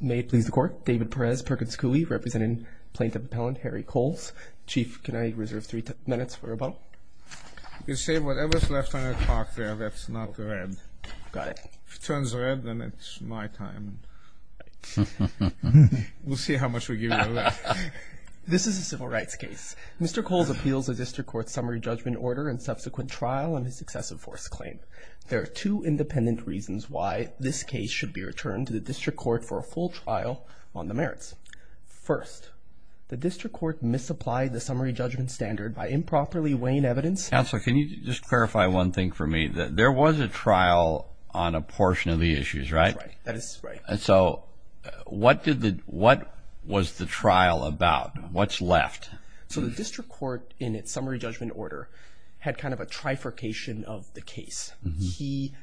May it please the court, David Perez, Perkins Cooley, representing plaintiff appellant Harry Coles. Chief, can I reserve three minutes for a moment? You can save whatever's left on your clock there that's not red. Got it. If it turns red, then it's my time. We'll see how much we give you left. This is a civil rights case. Mr. Coles appeals a district court summary judgment order and subsequent trial on his excessive force claim. There are two independent reasons why this case should be returned to the district court for a full trial on the merits. First, the district court misapplied the summary judgment standard by improperly weighing evidence. Counselor, can you just clarify one thing for me that there was a trial on a portion of the issues, right? That is right. And so what did the what was the trial about? What's left? So the district court in its summary judgment order had kind of a trifurcation of the case. He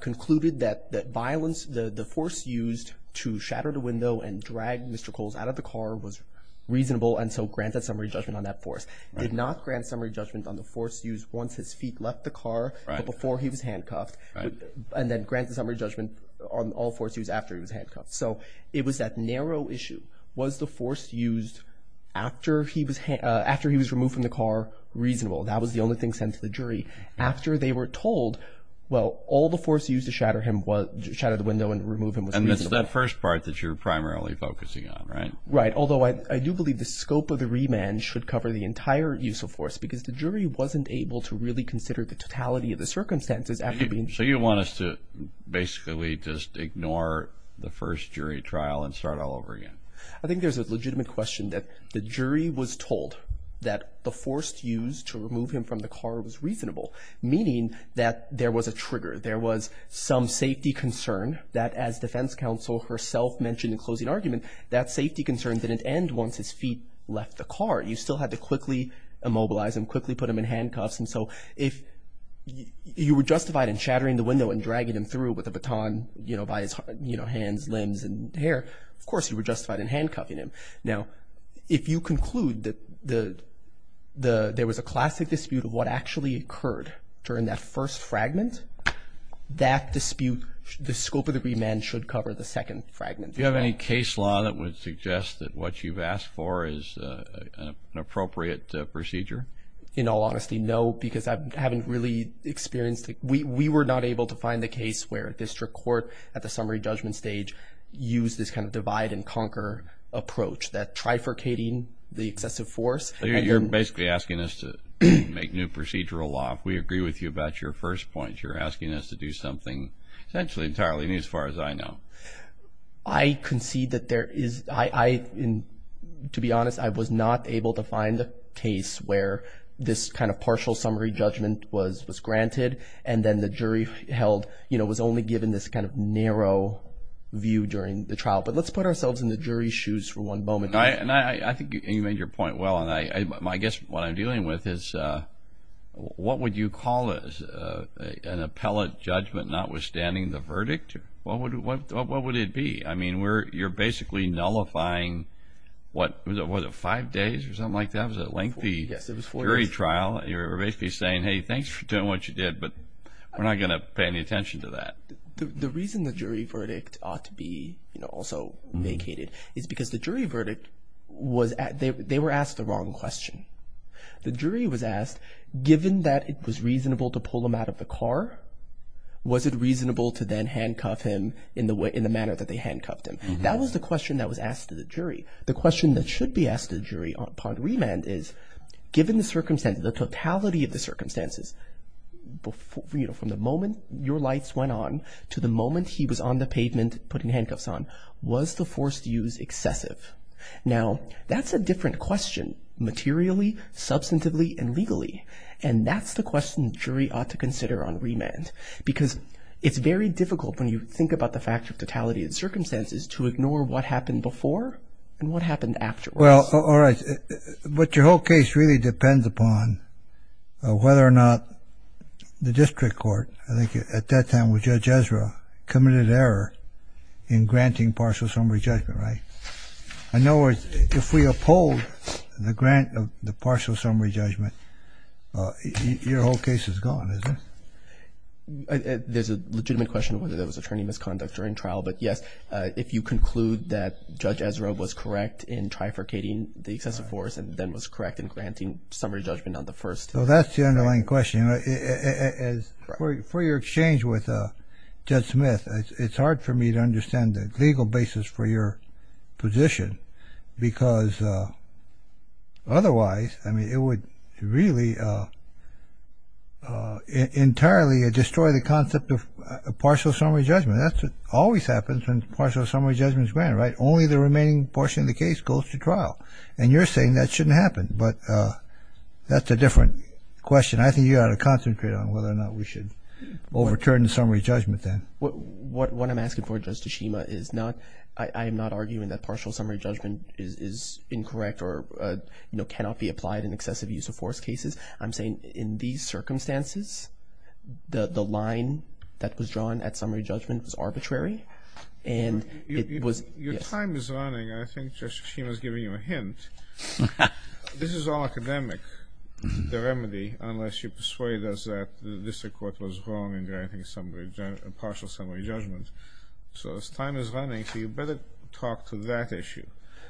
concluded that that violence, the force used to shatter the window and drag Mr. Coles out of the car was reasonable. And so granted summary judgment on that force did not grant summary judgment on the force used once his feet left the car before he was handcuffed and then granted summary judgment on all force use after he was handcuffed. So it was that narrow issue. Was the force used after he was after he was removed from the car reasonable? That was the only thing sent to the jury after they were told, well, all the force used to shatter him was to shatter the window and remove him. And that's that first part that you're primarily focusing on, right? Right. Although I do believe the scope of the remand should cover the entire use of force because the jury wasn't able to really consider the totality of the circumstances. So you want us to basically just ignore the first jury trial and start all over again? I think there's a legitimate question that the jury was told that the force used to remove him from the car was reasonable, meaning that there was a trigger. There was some safety concern that as defense counsel herself mentioned in closing argument, that safety concern didn't end once his feet left the car. You still had to quickly immobilize him, quickly put him in handcuffs. And so if you were justified in shattering the window and dragging him through with a baton by his hands, limbs and hair, of course you were justified in handcuffing him. Now, if you conclude that there was a classic dispute of what actually occurred during that first fragment, that dispute, the scope of the remand should cover the second fragment. Do you have any case law that would suggest that what you've asked for is an appropriate procedure? In all honesty, no, because I haven't really experienced it. We were not able to find the case where a district court at the summary judgment stage used this kind of divide and conquer approach, that trifurcating the excessive force. You're basically asking us to make new procedural law. If we agree with you about your first point, you're asking us to do something essentially entirely new as far as I know. I concede that there is, I, to be honest, I was not able to find a case where this kind of partial summary judgment was granted and then the jury held, you know, was only given this kind of narrow view during the trial. But let's put ourselves in the jury's shoes for one moment. I think you made your point well, and I guess what I'm dealing with is what would you call an appellate judgment notwithstanding the verdict? What would it be? I mean, you're basically nullifying what, was it five days or something like that? It was a lengthy jury trial. You're basically saying, hey, thanks for doing what you did, but we're not going to pay any attention to that. The reason the jury verdict ought to be, you know, also vacated is because the jury verdict was, they were asked the wrong question. The jury was asked, given that it was reasonable to pull him out of the car, was it reasonable to then handcuff him in the manner that they handcuffed him? That was the question that was asked to the jury. The question that should be asked to the jury upon remand is, given the circumstances, the totality of the circumstances, you know, from the moment your lights went on to the moment he was on the pavement putting handcuffs on, was the forced use excessive? Now, that's a different question materially, substantively, and legally, and that's the question the jury ought to consider on remand, because it's very difficult when you think about the fact of totality of the circumstances to ignore what happened before and what happened afterwards. Well, all right. But your whole case really depends upon whether or not the district court, I think at that time with Judge Ezra, committed error in granting partial summary judgment, right? In other words, if we uphold the grant of the partial summary judgment, your whole case is gone, isn't it? There's a legitimate question whether there was attorney misconduct during trial. But, yes, if you conclude that Judge Ezra was correct in trifurcating the excessive force and then was correct in granting summary judgment on the first trial. So that's the underlying question. For your exchange with Judge Smith, it's hard for me to understand the legal basis for your position, because otherwise, I mean, it would really entirely destroy the concept of partial summary judgment. That always happens when partial summary judgment is granted, right? Only the remaining portion of the case goes to trial. And you're saying that shouldn't happen, but that's a different question. And I think you ought to concentrate on whether or not we should overturn the summary judgment then. What I'm asking for, Judge Tshishima, is not – I am not arguing that partial summary judgment is incorrect or, you know, cannot be applied in excessive use of force cases. I'm saying in these circumstances, the line that was drawn at summary judgment was arbitrary, and it was – Your time is running. I think Judge Tshishima is giving you a hint. This is all academic, the remedy, unless you persuade us that the district court was wrong in granting partial summary judgment. So as time is running, you better talk to that issue.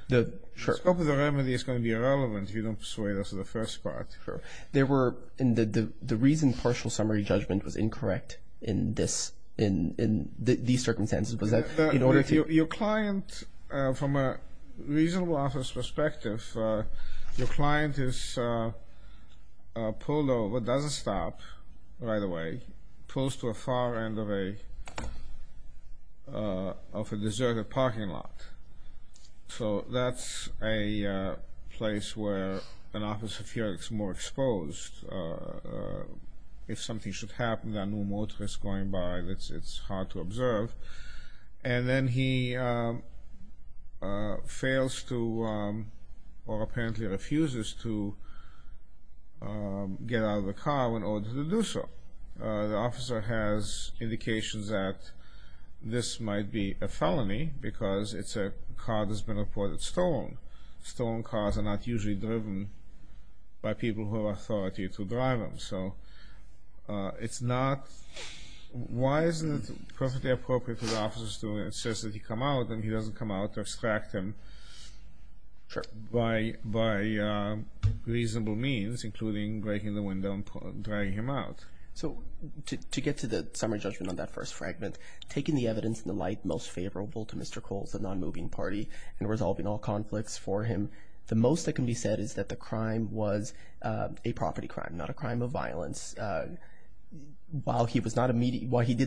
The scope of the remedy is going to be irrelevant if you don't persuade us of the first part. The reason partial summary judgment was incorrect in these circumstances was that in order to – Your client, from a reasonable office perspective, your client is pulled over, doesn't stop right away, pulls to a far end of a deserted parking lot. So that's a place where an office of yours is more exposed. If something should happen, there are no motorists going by, it's hard to observe. And then he fails to, or apparently refuses to, get out of the car in order to do so. The officer has indications that this might be a felony because it's a car that's been reported stolen. Stolen cars are not usually driven by people who have authority to drive them. So it's not – why isn't it perfectly appropriate for the officers to insist that he come out and he doesn't come out to extract him by reasonable means, including breaking the window and dragging him out? So to get to the summary judgment on that first fragment, taking the evidence in the light most favorable to Mr. Coles, the non-moving party, and resolving all conflicts for him, the most that can be said is that the crime was a property crime, not a crime of violence. While he did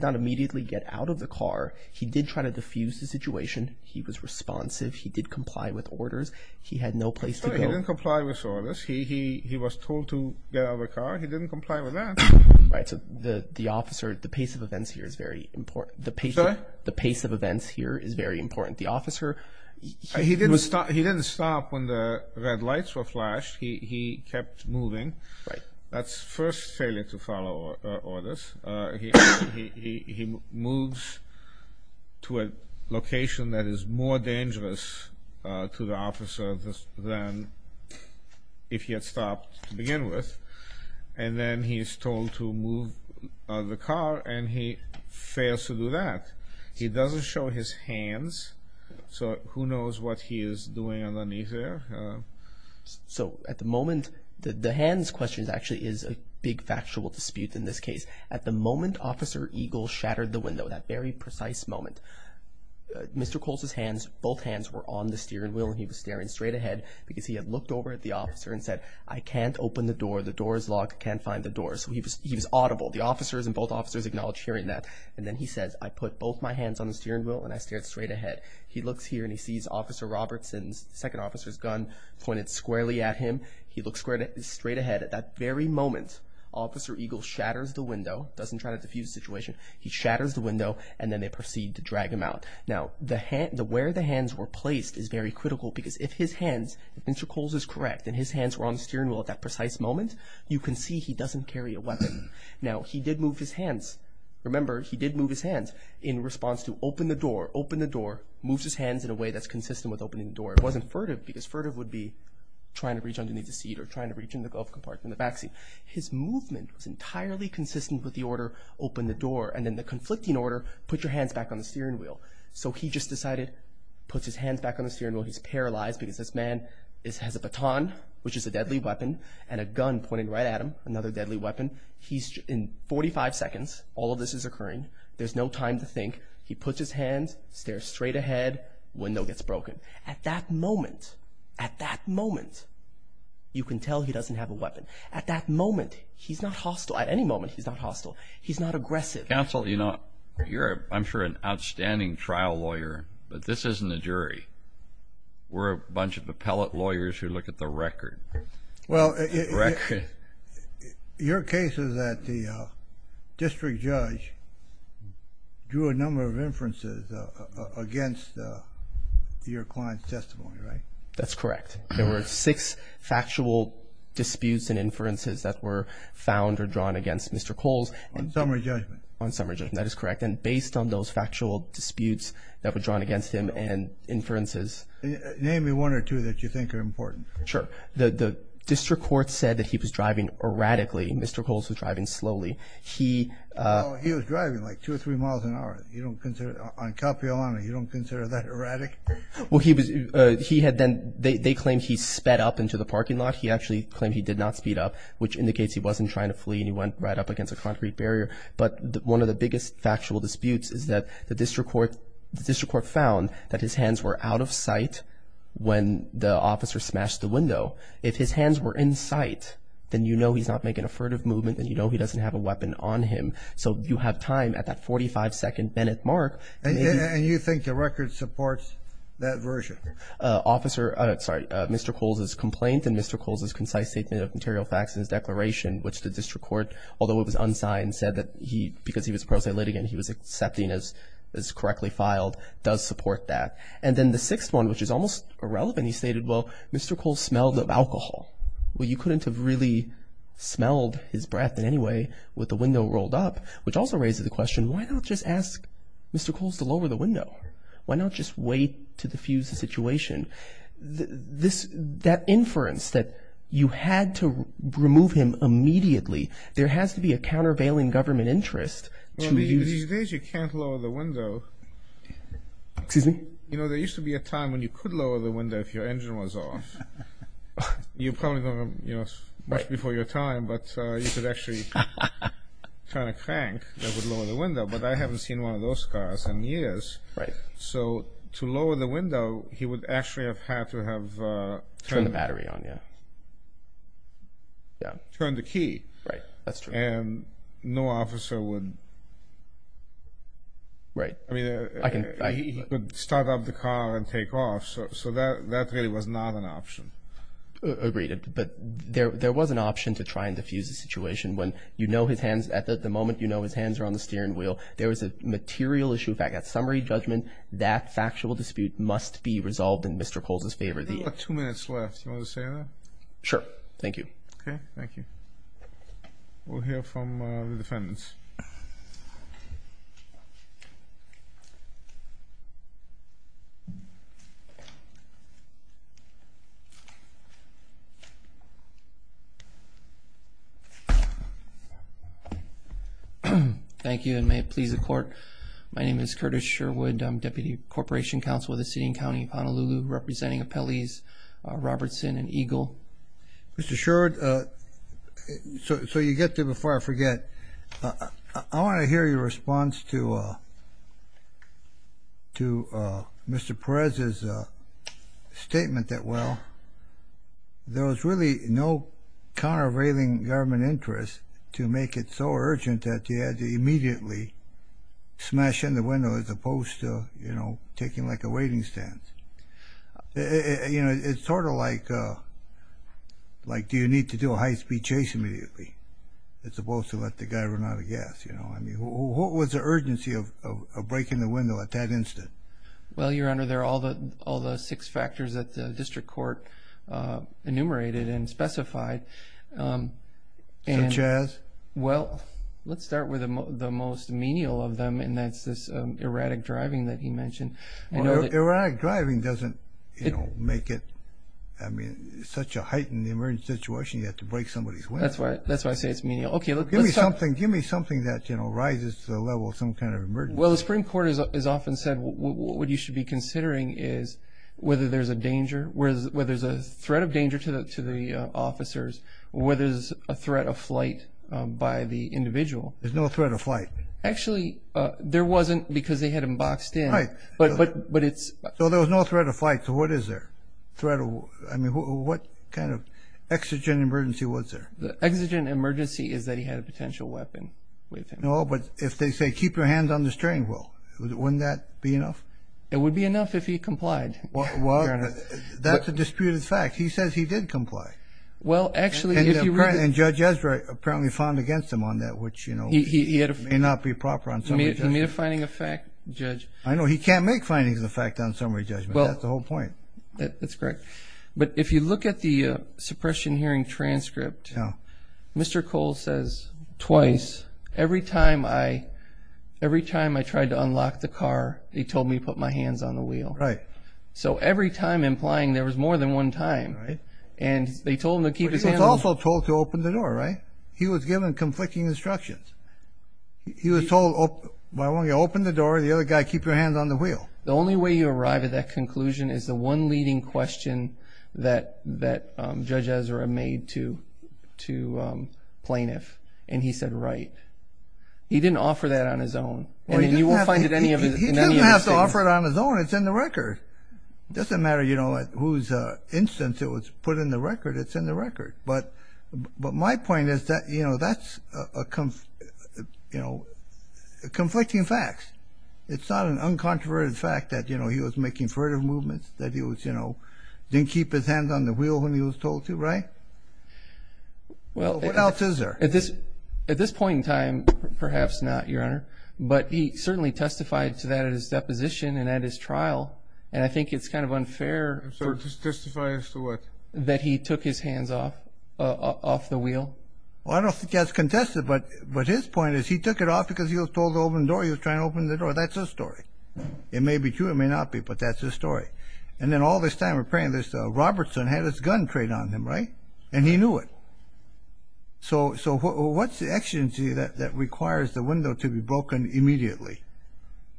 not immediately get out of the car, he did try to diffuse the situation. He was responsive. He did comply with orders. He had no place to go. He didn't comply with orders. He was told to get out of the car. He didn't comply with that. Right. So the officer – the pace of events here is very important. Sorry? The pace of events here is very important. The officer – He didn't stop when the red lights were flashed. He kept moving. Right. That's first failure to follow orders. He moves to a location that is more dangerous to the officer than if he had stopped to begin with, and then he is told to move out of the car, and he fails to do that. He doesn't show his hands, so who knows what he is doing underneath there? So at the moment – the hands question actually is a big factual dispute in this case. At the moment Officer Eagle shattered the window, that very precise moment, Mr. Coles' hands – both hands were on the steering wheel, and he was staring straight ahead because he had looked over at the officer and said, I can't open the door. The door is locked. I can't find the door. So he was audible. The officers and both officers acknowledged hearing that, and then he says, I put both my hands on the steering wheel, and I stared straight ahead. He looks here, and he sees Officer Robertson's – the second officer's gun pointed squarely at him. He looks straight ahead. At that very moment, Officer Eagle shatters the window. He doesn't try to diffuse the situation. He shatters the window, and then they proceed to drag him out. Now, where the hands were placed is very critical because if his hands – if Mr. Coles is correct and his hands were on the steering wheel at that precise moment, you can see he doesn't carry a weapon. Now, he did move his hands. Remember, he did move his hands in response to, open the door, open the door, moves his hands in a way that's consistent with opening the door. It wasn't furtive because furtive would be trying to reach underneath the seat or trying to reach in the glove compartment in the back seat. His movement was entirely consistent with the order, open the door, and then the conflicting order, put your hands back on the steering wheel. So he just decided, puts his hands back on the steering wheel. He's paralyzed because this man has a baton, which is a deadly weapon, and a gun pointed right at him, another deadly weapon. He's – in 45 seconds, all of this is occurring. There's no time to think. He puts his hands, stares straight ahead, window gets broken. At that moment, at that moment, you can tell he doesn't have a weapon. At that moment, he's not hostile. At any moment, he's not hostile. He's not aggressive. Counsel, you know, you're, I'm sure, an outstanding trial lawyer, but this isn't a jury. We're a bunch of appellate lawyers who look at the record. Well, your case is that the district judge drew a number of inferences against your client's testimony, right? That's correct. There were six factual disputes and inferences that were found or drawn against Mr. Coles. On summary judgment. On summary judgment, that is correct. And based on those factual disputes that were drawn against him and inferences. Name me one or two that you think are important. Sure. The district court said that he was driving erratically. Mr. Coles was driving slowly. He was driving like two or three miles an hour. You don't consider, on cop-iol only, you don't consider that erratic? Well, he was, he had then, they claimed he sped up into the parking lot. He actually claimed he did not speed up, which indicates he wasn't trying to flee and he went right up against a concrete barrier. But one of the biggest factual disputes is that the district court, the district court found that his hands were out of sight when the officer smashed the window. If his hands were in sight, then you know he's not making a furtive movement and you know he doesn't have a weapon on him. So you have time at that 45-second Bennett mark. And you think the record supports that version? Officer, sorry, Mr. Coles' complaint and Mr. Coles' concise statement of material facts in his declaration, which the district court, although it was unsigned, and said that he, because he was pro se litigant, he was accepting as correctly filed, does support that. And then the sixth one, which is almost irrelevant, he stated, well, Mr. Coles smelled of alcohol. Well, you couldn't have really smelled his breath in any way with the window rolled up, which also raises the question, why not just ask Mr. Coles to lower the window? Why not just wait to diffuse the situation? This, that inference that you had to remove him immediately, there has to be a countervailing government interest to use. Well, these days you can't lower the window. Excuse me? You know, there used to be a time when you could lower the window if your engine was off. You're probably going to, you know, much before your time, but you could actually turn a crank that would lower the window. But I haven't seen one of those cars in years. Right. So to lower the window, he would actually have had to have turned the key. Turn the battery on, yeah. Turn the key. Right, that's true. And no officer would start up the car and take off. So that really was not an option. Agreed. But there was an option to try and diffuse the situation when you know his hands, at the moment you know his hands are on the steering wheel, there was a material issue. In fact, at summary judgment, that factual dispute must be resolved in Mr. Coles' favor. We've got two minutes left. Do you want to say that? Sure. Thank you. Okay. Thank you. We'll hear from the defendants. Thank you and may it please the Court. My name is Curtis Sherwood. I'm Deputy Corporation Counsel with the City and County of Honolulu, representing appellees Robertson and Eagle. Mr. Sherwood, so you get there before I forget. I want to hear your response to Mr. Perez's statement that, well, there was really no countervailing government interest to make it so urgent that he had to It's sort of like do you need to do a high-speed chase immediately as opposed to let the guy run out of gas. What was the urgency of breaking the window at that instant? Well, Your Honor, there are all the six factors that the district court enumerated and specified. Such as? Well, let's start with the most menial of them, and that's this erratic driving that he mentioned. Erratic driving doesn't make it such a heightened emergency situation. You have to break somebody's window. That's why I say it's menial. Give me something that rises to the level of some kind of emergency. Well, the Supreme Court has often said what you should be considering is whether there's a threat of danger to the officers or whether there's a threat of flight by the individual. There's no threat of flight. Actually, there wasn't because they had him boxed in. So there was no threat of flight, so what is there? I mean, what kind of exigent emergency was there? The exigent emergency is that he had a potential weapon with him. No, but if they say keep your hands on the steering wheel, wouldn't that be enough? It would be enough if he complied, Your Honor. Well, that's a disputed fact. He says he did comply. Well, actually, if you read it. And Judge Ezra apparently found against him on that, which may not be proper on some of the judges. I know. He can't make findings of the fact on summary judgment. That's the whole point. That's correct. But if you look at the suppression hearing transcript, Mr. Cole says twice, every time I tried to unlock the car, he told me to put my hands on the wheel. Right. So every time implying there was more than one time. And they told him to keep his hands on the wheel. But he was also told to open the door, right? He was given conflicting instructions. He was told, why won't you open the door? The other guy, keep your hands on the wheel. The only way you arrive at that conclusion is the one leading question that Judge Ezra made to Plaintiff. And he said, right. He didn't offer that on his own. And you won't find it in any of his statements. He didn't have to offer it on his own. It's in the record. It doesn't matter, you know, whose instance it was put in the record. It's in the record. But my point is that, you know, that's conflicting facts. It's not an uncontroverted fact that, you know, he was making furtive movements, that he was, you know, didn't keep his hands on the wheel when he was told to, right? What else is there? At this point in time, perhaps not, Your Honor. But he certainly testified to that at his deposition and at his trial. And I think it's kind of unfair. Testify as to what? That he took his hands off the wheel. Well, I don't think that's contested. But his point is he took it off because he was told to open the door. He was trying to open the door. That's his story. It may be true. It may not be. But that's his story. And then all this time we're praying this Robertson had his gun trained on him, right? And he knew it. So what's the exigency that requires the window to be broken immediately?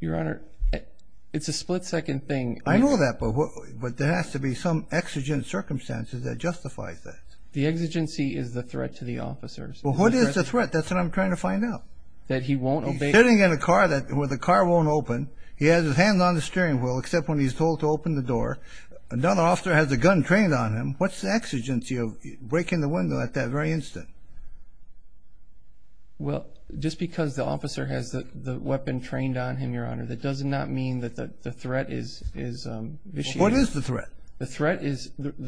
Your Honor, it's a split-second thing. I know that. But there has to be some exigent circumstances that justifies that. The exigency is the threat to the officers. Well, what is the threat? That's what I'm trying to find out. That he won't obey. He's sitting in a car where the car won't open. He has his hands on the steering wheel except when he's told to open the door. Another officer has a gun trained on him. What's the exigency of breaking the window at that very instant? Well, just because the officer has the weapon trained on him, Your Honor, that does not mean that the threat is vicious. Well, what is the threat? The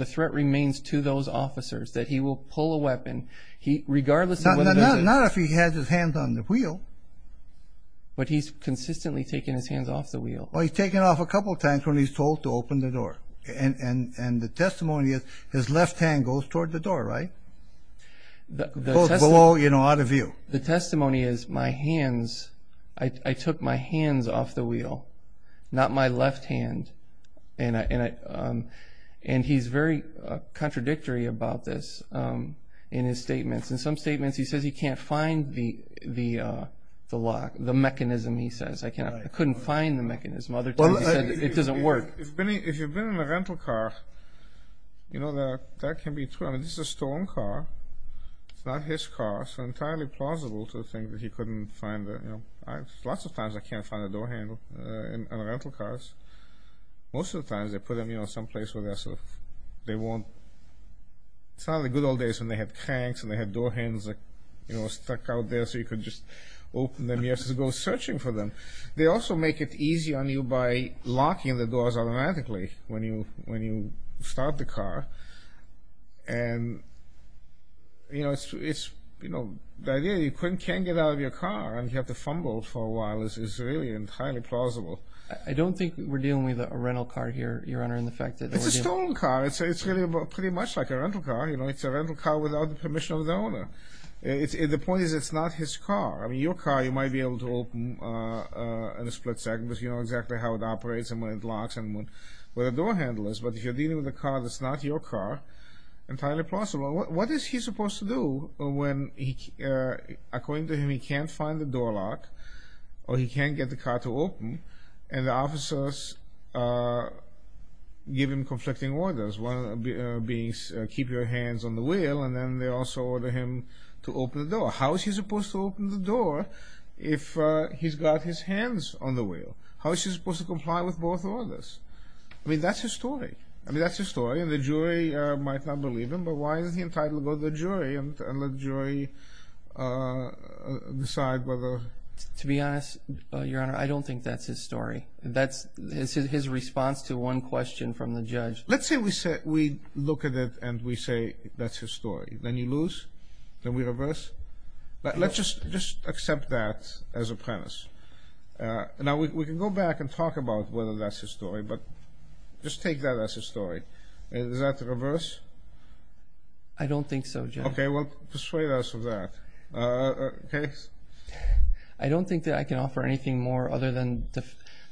threat remains to those officers, that he will pull a weapon regardless of whether he does it. Not if he has his hands on the wheel. But he's consistently taking his hands off the wheel. Well, he's taken off a couple times when he's told to open the door. And the testimony is his left hand goes toward the door, right? Goes below, you know, out of view. The testimony is my hands, I took my hands off the wheel, not my left hand. And he's very contradictory about this in his statements. In some statements he says he can't find the lock, the mechanism, he says. I couldn't find the mechanism. Other times he said it doesn't work. If you've been in a rental car, you know, that can be true. I mean, this is a stolen car. It's not his car. So entirely plausible to think that he couldn't find it. Lots of times I can't find a door handle in rental cars. Most of the times they put them, you know, someplace where they're sort of, they won't. It's not in the good old days when they had cranks and they had door handles, you know, stuck out there so you could just open them. You have to go searching for them. They also make it easy on you by locking the doors automatically when you start the car. And, you know, it's, you know, the idea that you can't get out of your car and you have to fumble for a while is really entirely plausible. I don't think we're dealing with a rental car here, Your Honor, in the fact that we're dealing… It's a stolen car. It's really pretty much like a rental car. You know, it's a rental car without the permission of the owner. The point is it's not his car. I mean, your car you might be able to open in a split second because you know exactly how it operates and where it locks and where the door handle is. But if you're dealing with a car that's not your car, entirely plausible. What is he supposed to do when, according to him, he can't find the door lock or he can't get the car to open and the officers give him conflicting orders, one of them being keep your hands on the wheel and then they also order him to open the door. How is he supposed to open the door if he's got his hands on the wheel? How is he supposed to comply with both orders? I mean, that's his story. I mean, that's his story and the jury might not believe him, but why is he entitled to go to the jury and let the jury decide whether… To be honest, Your Honor, I don't think that's his story. That's his response to one question from the judge. Let's say we look at it and we say that's his story. Then you lose. Then we reverse. Let's just accept that as a premise. Now, we can go back and talk about whether that's his story, but just take that as his story. Is that the reverse? I don't think so, Judge. Okay, well, persuade us of that. I don't think that I can offer anything more other than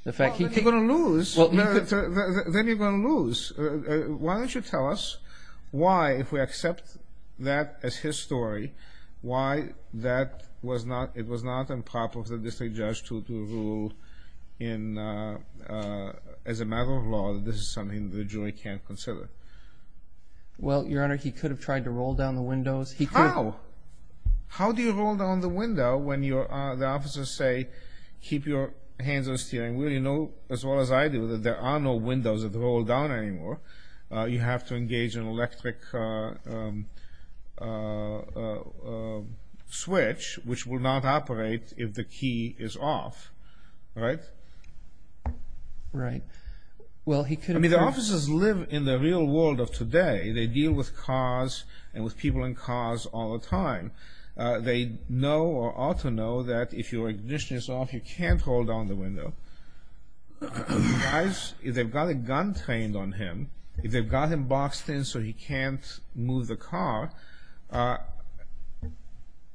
the fact he… Well, then you're going to lose. Then you're going to lose. Why don't you tell us why, if we accept that as his story, why it was not improper for the district judge to rule as a matter of law that this is something the jury can't consider? Well, Your Honor, he could have tried to roll down the windows. How? How do you roll down the window when the officers say, keep your hands on the steering wheel? You know, as well as I do, that there are no windows that roll down anymore. You have to engage an electric switch, which will not operate if the key is off. Right? Right. I mean, the officers live in the real world of today. They deal with cars and with people in cars all the time. They know or ought to know that if your ignition is off, you can't roll down the window. The guys, if they've got a gun trained on him, if they've got him boxed in so he can't move the car,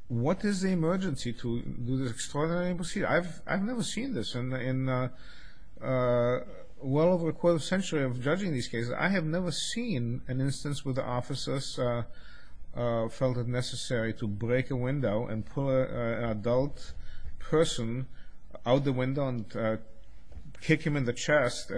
what is the emergency to do this extraordinary procedure? I've never seen this in well over a quarter of a century of judging these cases. I have never seen an instance where the officers felt it necessary to break a window and pull an adult person out the window and kick him in the chest.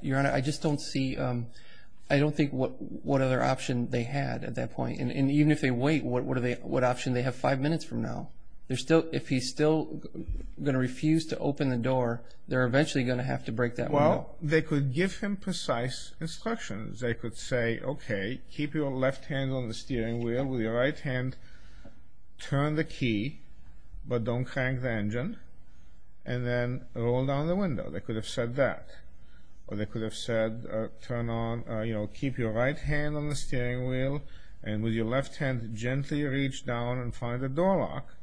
Your Honor, I just don't see, I don't think what other option they had at that point. And even if they wait, what option do they have five minutes from now? If he's still going to refuse to open the door, they're eventually going to have to break that window. Well, they could give him precise instructions. They could say, okay, keep your left hand on the steering wheel, with your right hand turn the key, but don't crank the engine, and then roll down the window. They could have said that. Or they could have said turn on, you know, keep your right hand on the steering wheel, and with your left hand gently reach down and find the door lock.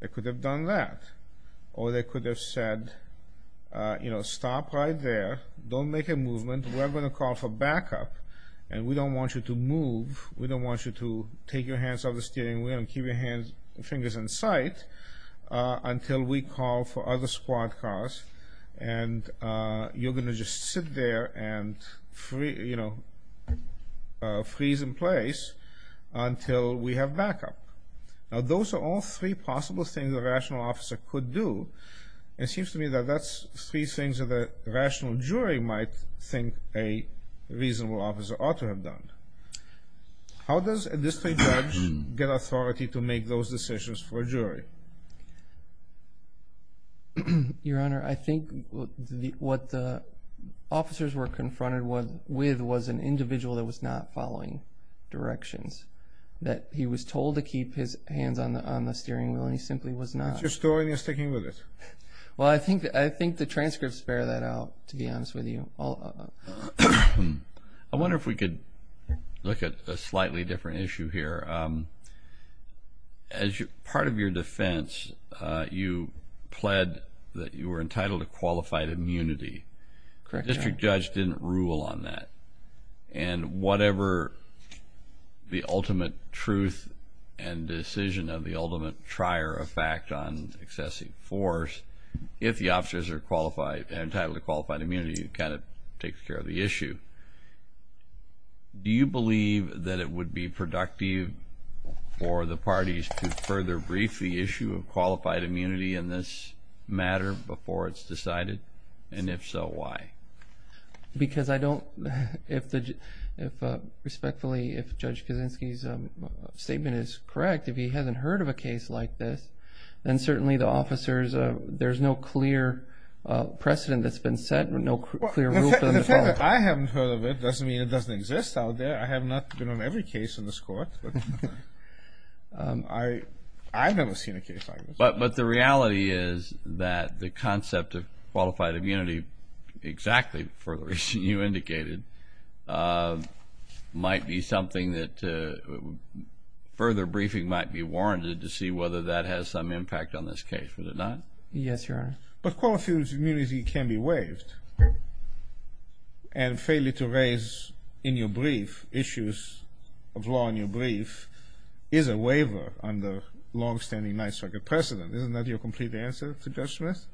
They could have done that. Or they could have said, you know, stop right there, don't make a movement, we're going to call for backup, and we don't want you to move, we don't want you to take your hands off the steering wheel and keep your fingers in sight until we call for other squad cars, and you're going to just sit there and, you know, freeze in place until we have backup. Now those are all three possible things a rational officer could do. It seems to me that that's three things that a rational jury might think a reasonable officer ought to have done. How does a district judge get authority to make those decisions for a jury? Your Honor, I think what the officers were confronted with was an individual that was not following directions, that he was told to keep his hands on the steering wheel and he simply was not. Is that your story and you're sticking with it? Well, I think the transcripts bear that out, to be honest with you. I wonder if we could look at a slightly different issue here. As part of your defense, you pled that you were entitled to qualified immunity. Correct, Your Honor. The district judge didn't rule on that. And whatever the ultimate truth and decision of the ultimate trier of fact on excessive force, if the officers are entitled to qualified immunity, it kind of takes care of the issue. Do you believe that it would be productive for the parties to further brief the issue of qualified immunity in this matter before it's decided? And if so, why? Because I don't, if respectfully, if Judge Kaczynski's statement is correct, if he hasn't heard of a case like this, then certainly the officers, there's no clear precedent that's been set, no clear rule for them to follow. The fact that I haven't heard of it doesn't mean it doesn't exist out there. I have not been on every case in this Court, but I've never seen a case like this. But the reality is that the concept of qualified immunity, exactly for the reason you indicated, might be something that further briefing might be warranted to see whether that has some impact on this case. Would it not? Yes, Your Honor. But qualified immunity can be waived. And failure to raise in your brief issues of law in your brief is a waiver under longstanding Ninth Circuit precedent. Isn't that your complete answer to Judge Smith?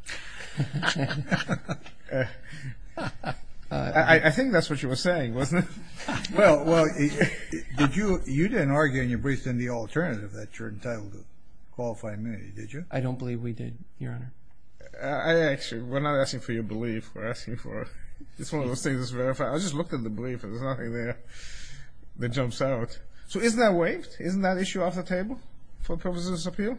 I think that's what you were saying, wasn't it? Well, you didn't argue in your brief in the alternative that you're entitled to qualified immunity, did you? I don't believe we did, Your Honor. Actually, we're not asking for your belief. We're asking for, it's one of those things that's verified. I just looked at the belief and there's nothing there that jumps out. So is that waived? Isn't that issue off the table for purposes of appeal?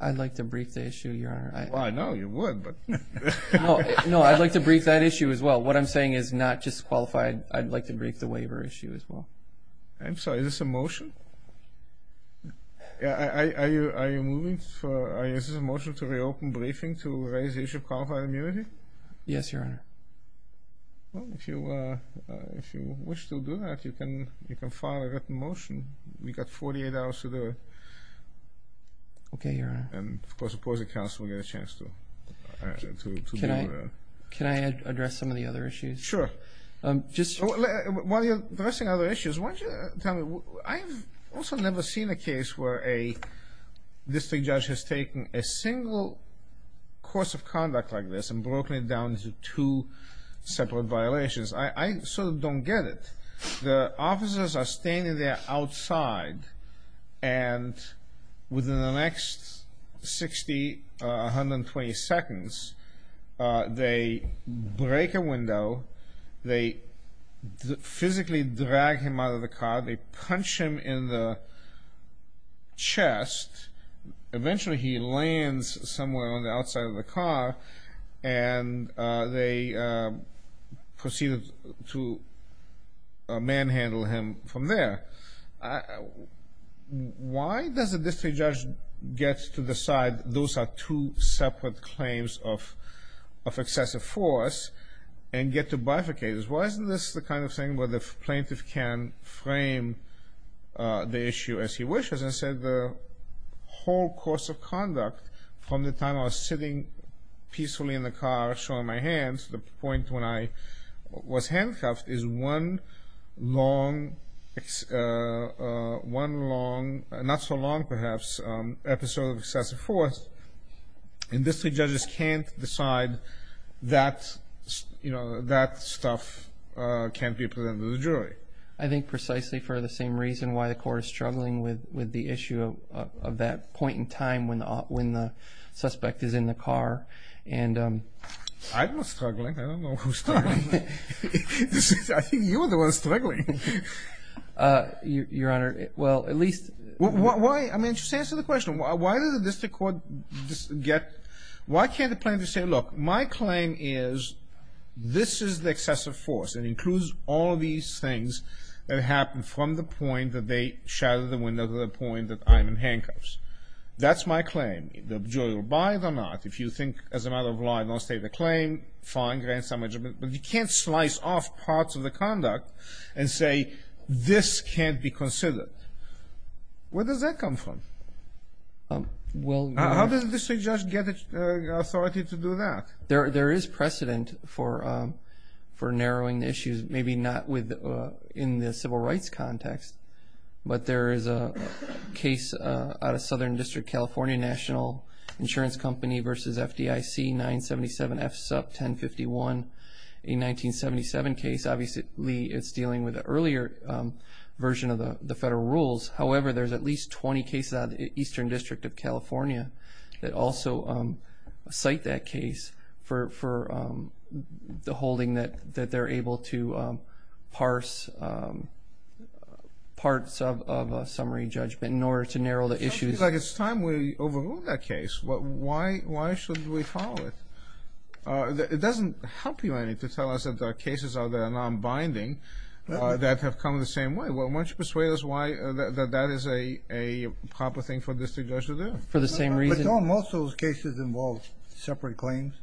I'd like to brief the issue, Your Honor. Well, I know you would. No, I'd like to brief that issue as well. What I'm saying is not just qualified. I'd like to brief the waiver issue as well. I'm sorry, is this a motion? Are you moving for, is this a motion to reopen briefing to raise the issue of qualified immunity? Yes, Your Honor. Well, if you wish to do that, you can file a written motion. We've got 48 hours to do it. Okay, Your Honor. And, of course, opposing counsel will get a chance to do that. Can I address some of the other issues? Sure. While you're addressing other issues, why don't you tell me, I've also never seen a case where a district judge has taken a single course of conduct like this and broken it down into two separate violations. I sort of don't get it. The officers are standing there outside, and within the next 60, 120 seconds, they break a window, they physically drag him out of the car, they punch him in the chest. Eventually, he lands somewhere on the outside of the car, and they proceed to manhandle him from there. Why does a district judge get to decide those are two separate claims of excessive force and get to bifurcate this? Well, isn't this the kind of thing where the plaintiff can frame the issue as he wishes and say the whole course of conduct from the time I was sitting peacefully in the car showing my hands to the point when I was handcuffed is one long, not so long, perhaps, episode of excessive force. And district judges can't decide that stuff can't be presented to the jury. I think precisely for the same reason why the court is struggling with the issue of that point in time when the suspect is in the car. I'm not struggling. I don't know who's struggling. I think you're the one struggling. Your Honor, well, at least... I mean, just answer the question. Why does the district court get... Why can't the plaintiff say, look, my claim is this is the excessive force and includes all these things that happen from the point that they shatter the window to the point that I'm in handcuffs. That's my claim. The jury will buy it or not. If you think, as a matter of law, I don't state the claim, fine. But you can't slice off parts of the conduct and say this can't be considered. Where does that come from? How does the district judge get authority to do that? There is precedent for narrowing the issues. Maybe not in the civil rights context, but there is a case out of Southern District, California, National Insurance Company versus FDIC, 977F sub 1051, a 1977 case. Obviously, it's dealing with an earlier version of the federal rules. However, there's at least 20 cases out of the Eastern District of California that also cite that case for the holding that they're able to parse parts of a summary judgment in order to narrow the issues. It sounds like it's time we overrule that case. Why should we follow it? It doesn't help you any to tell us that there are cases that are non-binding that have come the same way. Why don't you persuade us why that is a proper thing for a district judge to do? For the same reason. But, Tom, most of those cases involve separate claims.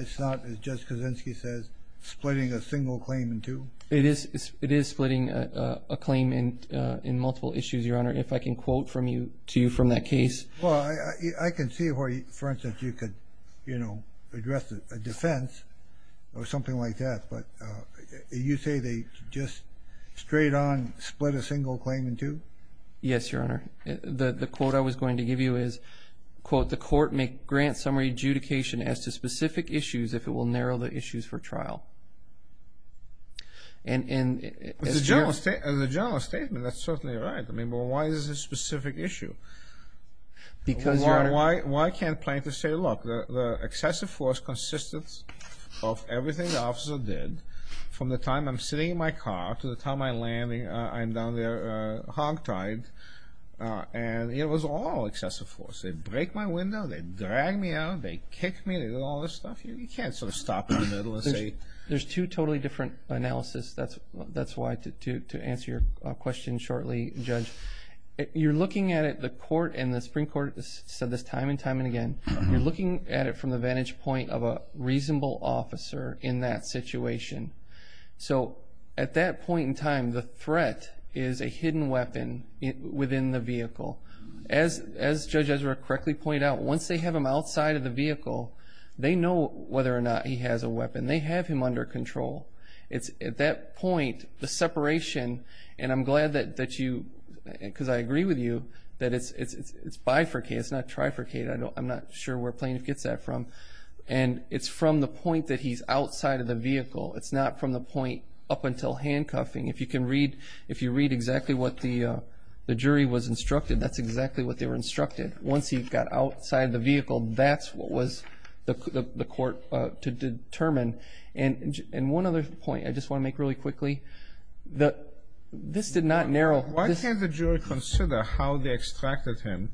It's not, as Judge Kaczynski says, splitting a single claim in two. It is splitting a claim in multiple issues, Your Honor, if I can quote to you from that case. I can see where, for instance, you could address a defense or something like that, but you say they just straight on split a single claim in two? Yes, Your Honor. The quote I was going to give you is, quote, the court may grant summary adjudication as to specific issues if it will narrow the issues for trial. As a general statement, that's certainly right. But why is this a specific issue? Because, Your Honor. Why can't plaintiffs say, look, the excessive force, consistence of everything the officer did from the time I'm sitting in my car to the time I'm landing, I'm down there hogtied, and it was all excessive force. They break my window, they drag me out, they kick me, all this stuff. You can't sort of stop in the middle and say. There's two totally different analysis. That's why, to answer your question shortly, Judge, you're looking at it, the court and the Supreme Court said this time and time again, you're looking at it from the vantage point of a reasonable officer in that situation. So at that point in time, the threat is a hidden weapon within the vehicle. As Judge Ezra correctly pointed out, once they have him outside of the vehicle, they know whether or not he has a weapon. They have him under control. At that point, the separation, and I'm glad that you, because I agree with you, that it's bifurcate, it's not trifurcate. I'm not sure where plaintiff gets that from. And it's from the point that he's outside of the vehicle. It's not from the point up until handcuffing. If you read exactly what the jury was instructed, that's exactly what they were instructed. Once he got outside of the vehicle, that's what was the court to determine. And one other point I just want to make really quickly. This did not narrow. Why can't the jury consider how they extracted him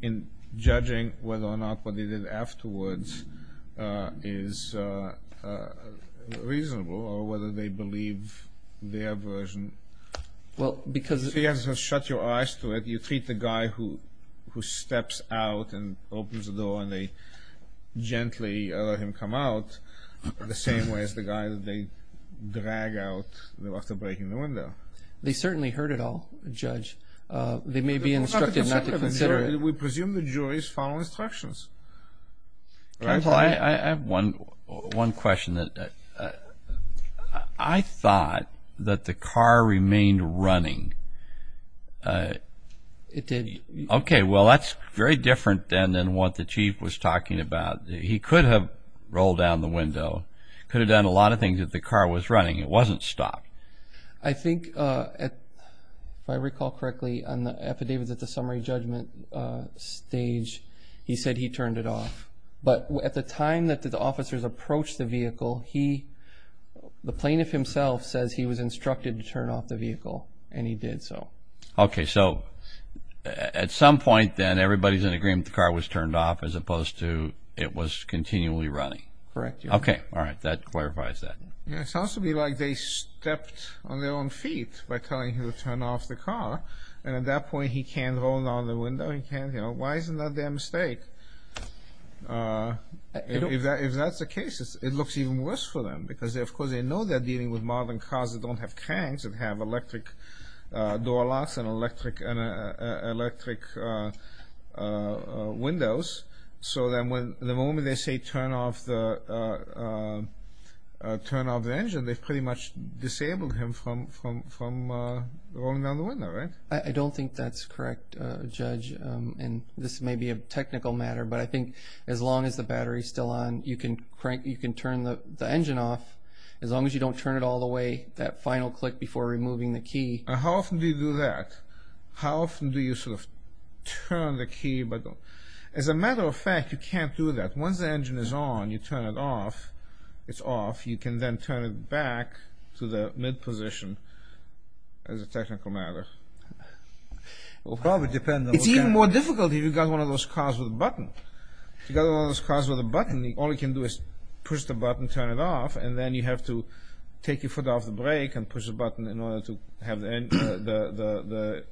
in judging whether or not what they did afterwards is reasonable or whether they believe their version? Well, because. So you have to shut your eyes to it. You treat the guy who steps out and opens the door and they gently let him come out. The same way as the guy that they drag out after breaking the window. They certainly heard it all, Judge. They may be instructed not to consider it. We presume the jury's following instructions. Counsel, I have one question. I thought that the car remained running. It did. Okay. Well, that's very different than what the Chief was talking about. He could have rolled down the window, could have done a lot of things if the car was running. It wasn't stopped. I think, if I recall correctly, on the affidavits at the summary judgment stage, he said he turned it off. But at the time that the officers approached the vehicle, the plaintiff himself says he was instructed to turn off the vehicle, and he did so. Okay, so at some point then, everybody's in agreement the car was turned off as opposed to it was continually running. Correct. Okay. All right. That clarifies that. It sounds to me like they stepped on their own feet by telling him to turn off the car, and at that point he can't roll down the window. Why isn't that their mistake? If that's the case, it looks even worse for them because, of course, they know they're dealing with modern cars that don't have cranks, that have electric door locks and electric windows. So then the moment they say turn off the engine, they've pretty much disabled him from rolling down the window, right? I don't think that's correct, Judge, and this may be a technical matter, but I think as long as the battery is still on, you can turn the engine off. As long as you don't turn it all the way, that final click before removing the key. How often do you do that? How often do you sort of turn the key? As a matter of fact, you can't do that. Once the engine is on, you turn it off. It's off. You can then turn it back to the mid position as a technical matter. It's even more difficult if you've got one of those cars with a button. If you've got one of those cars with a button, all you can do is push the button, turn it off, and then you have to take your foot off the brake and push the button in order to have the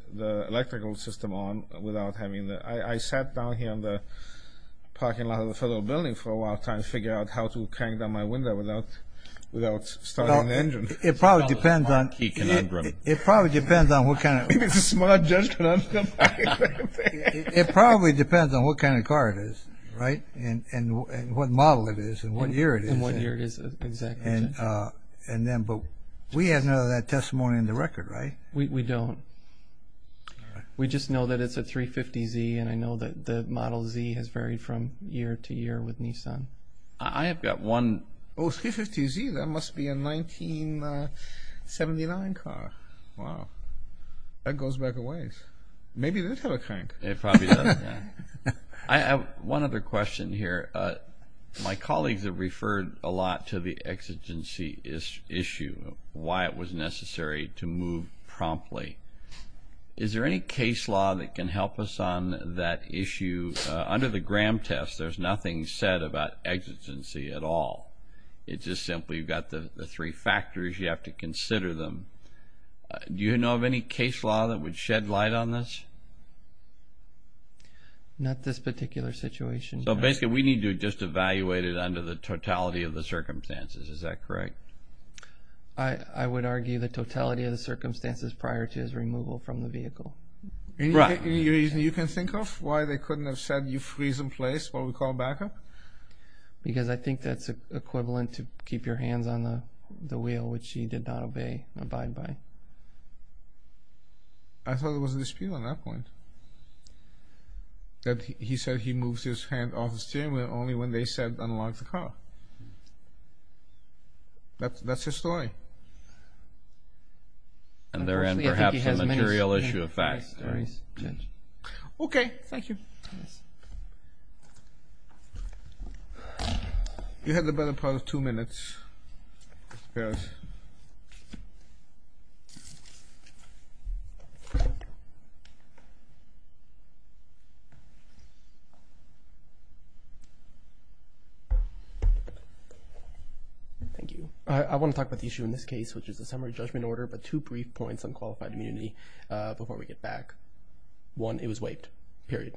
electrical system on without having the ‑‑ I sat down here in the parking lot of the federal building for a while trying to figure out how to crank down my window without starting the engine. It probably depends on what kind of car it is, right? And what model it is and what year it is. And what year it is, exactly. But we have none of that testimony in the record, right? We don't. We just know that it's a 350Z, and I know that the Model Z has varied from year to year with Nissan. I have got one. Oh, 350Z, that must be a 1979 car. Wow. That goes back a ways. Maybe it does have a crank. It probably does, yeah. I have one other question here. My colleagues have referred a lot to the exigency issue, why it was necessary to move promptly. Is there any case law that can help us on that issue? Under the Graham test, there's nothing said about exigency at all. It's just simply you've got the three factors, you have to consider them. Do you know of any case law that would shed light on this? Not this particular situation. Basically, we need to just evaluate it under the totality of the circumstances. Is that correct? I would argue the totality of the circumstances prior to his removal from the vehicle. Any reason you can think of why they couldn't have said, you freeze in place, what we call backup? Because I think that's equivalent to keep your hands on the wheel, which he did not abide by. I thought there was a dispute on that point, that he said he moves his hand off the steering wheel only when they said unlock the car. That's his story. And therein, perhaps, a material issue of fact. Okay, thank you. You had the better part of two minutes. Mr. Peres. Thank you. I want to talk about the issue in this case, which is a summary judgment order, but two brief points on qualified immunity before we get back. One, it was waived, period.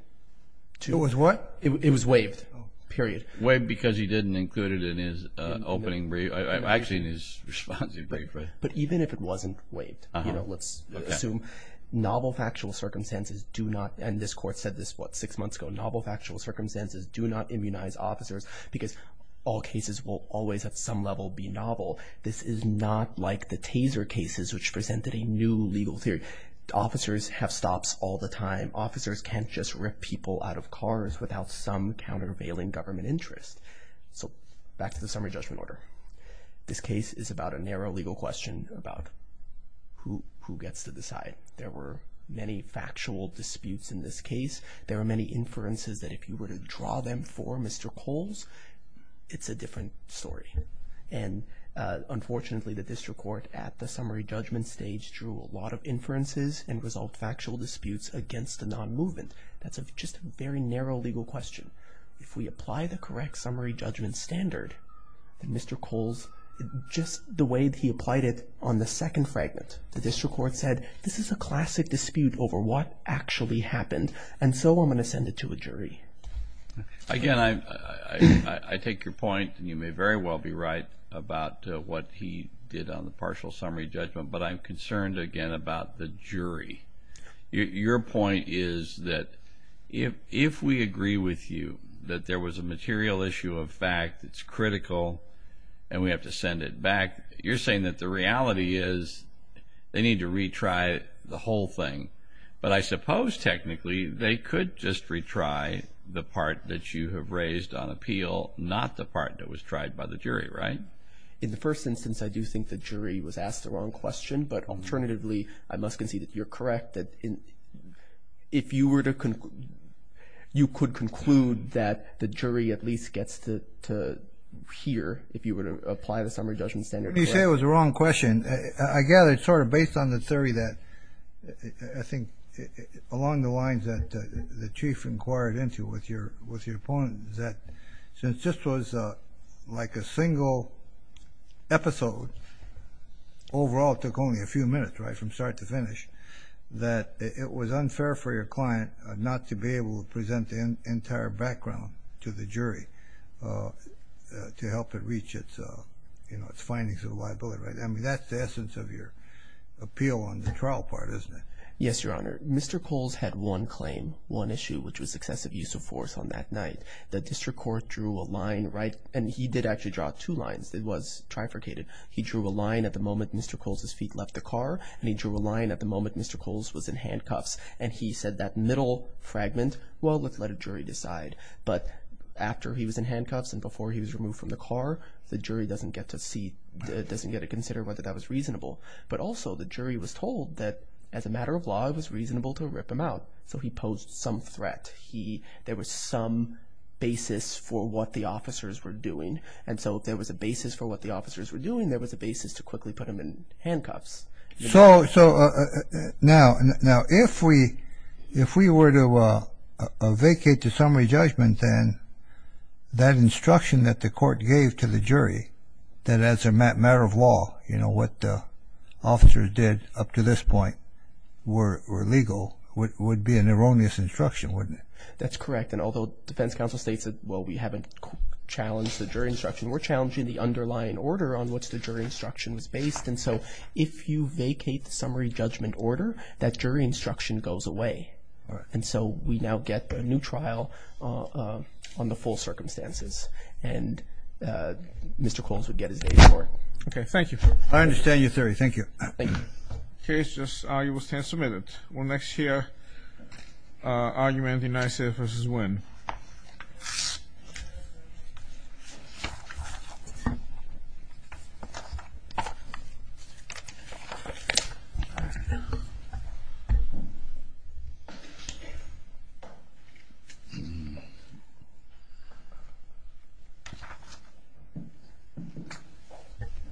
It was what? It was waived, period. Waived because he didn't include it in his opening brief, actually in his responsive brief. But even if it wasn't waived, let's assume novel factual circumstances do not, and this court said this, what, six months ago, novel factual circumstances do not immunize officers because all cases will always at some level be novel. This is not like the Taser cases, which presented a new legal theory. Officers have stops all the time. Officers can't just rip people out of cars without some countervailing government interest. So back to the summary judgment order. This case is about a narrow legal question about who gets to decide. There were many factual disputes in this case. There were many inferences that if you were to draw them for Mr. Coles, it's a different story. And unfortunately, the district court at the summary judgment stage drew a lot of inferences and resolved factual disputes against a non-movement. That's just a very narrow legal question. If we apply the correct summary judgment standard, Mr. Coles, just the way that he applied it on the second fragment, the district court said, this is a classic dispute over what actually happened, and so I'm going to send it to a jury. Again, I take your point, and you may very well be right, about what he did on the partial summary judgment, but I'm concerned, again, about the jury. Your point is that if we agree with you that there was a material issue of fact that's critical and we have to send it back, you're saying that the reality is they need to retry the whole thing. But I suppose, technically, they could just retry the part that you have raised on appeal, not the part that was tried by the jury, right? In the first instance, I do think the jury was asked the wrong question, but alternatively, I must concede that you're correct. If you were to conclude, you could conclude that the jury at least gets to hear if you were to apply the summary judgment standard. Let me say it was the wrong question. I gather it's sort of based on the theory that, I think, along the lines that the Chief inquired into with your opponent, that since this was like a single episode, overall it took only a few minutes, right, from start to finish, that it was unfair for your client not to be able to present the entire background to the jury to help it reach its findings of liability, right? I mean, that's the essence of your appeal on the trial part, isn't it? Yes, Your Honor. Mr. Coles had one claim, one issue, which was excessive use of force on that night. The district court drew a line, right, and he did actually draw two lines that was trifurcated. He drew a line at the moment Mr. Coles' feet left the car, and he drew a line at the moment Mr. Coles was in handcuffs, and he said that middle fragment, well, let's let a jury decide. But after he was in handcuffs and before he was removed from the car, the jury doesn't get to see, doesn't get to consider whether that was reasonable. But also the jury was told that, as a matter of law, it was reasonable to rip him out, so he posed some threat. There was some basis for what the officers were doing, and so if there was a basis for what the officers were doing, there was a basis to quickly put him in handcuffs. So, now, if we were to vacate the summary judgment, then that instruction that the court gave to the jury, that as a matter of law, you know, what the officers did up to this point were legal, would be an erroneous instruction, wouldn't it? That's correct, and although defense counsel states that, well, we haven't challenged the jury instruction, we're challenging the underlying order on which the jury instruction was based, and so if you vacate the summary judgment order, that jury instruction goes away. And so we now get a new trial on the full circumstances, and Mr. Coles would get his day's work. Okay, thank you. I understand your theory. Thank you. Thank you. The case is argued and submitted. We'll next hear argument denied, say, versus win.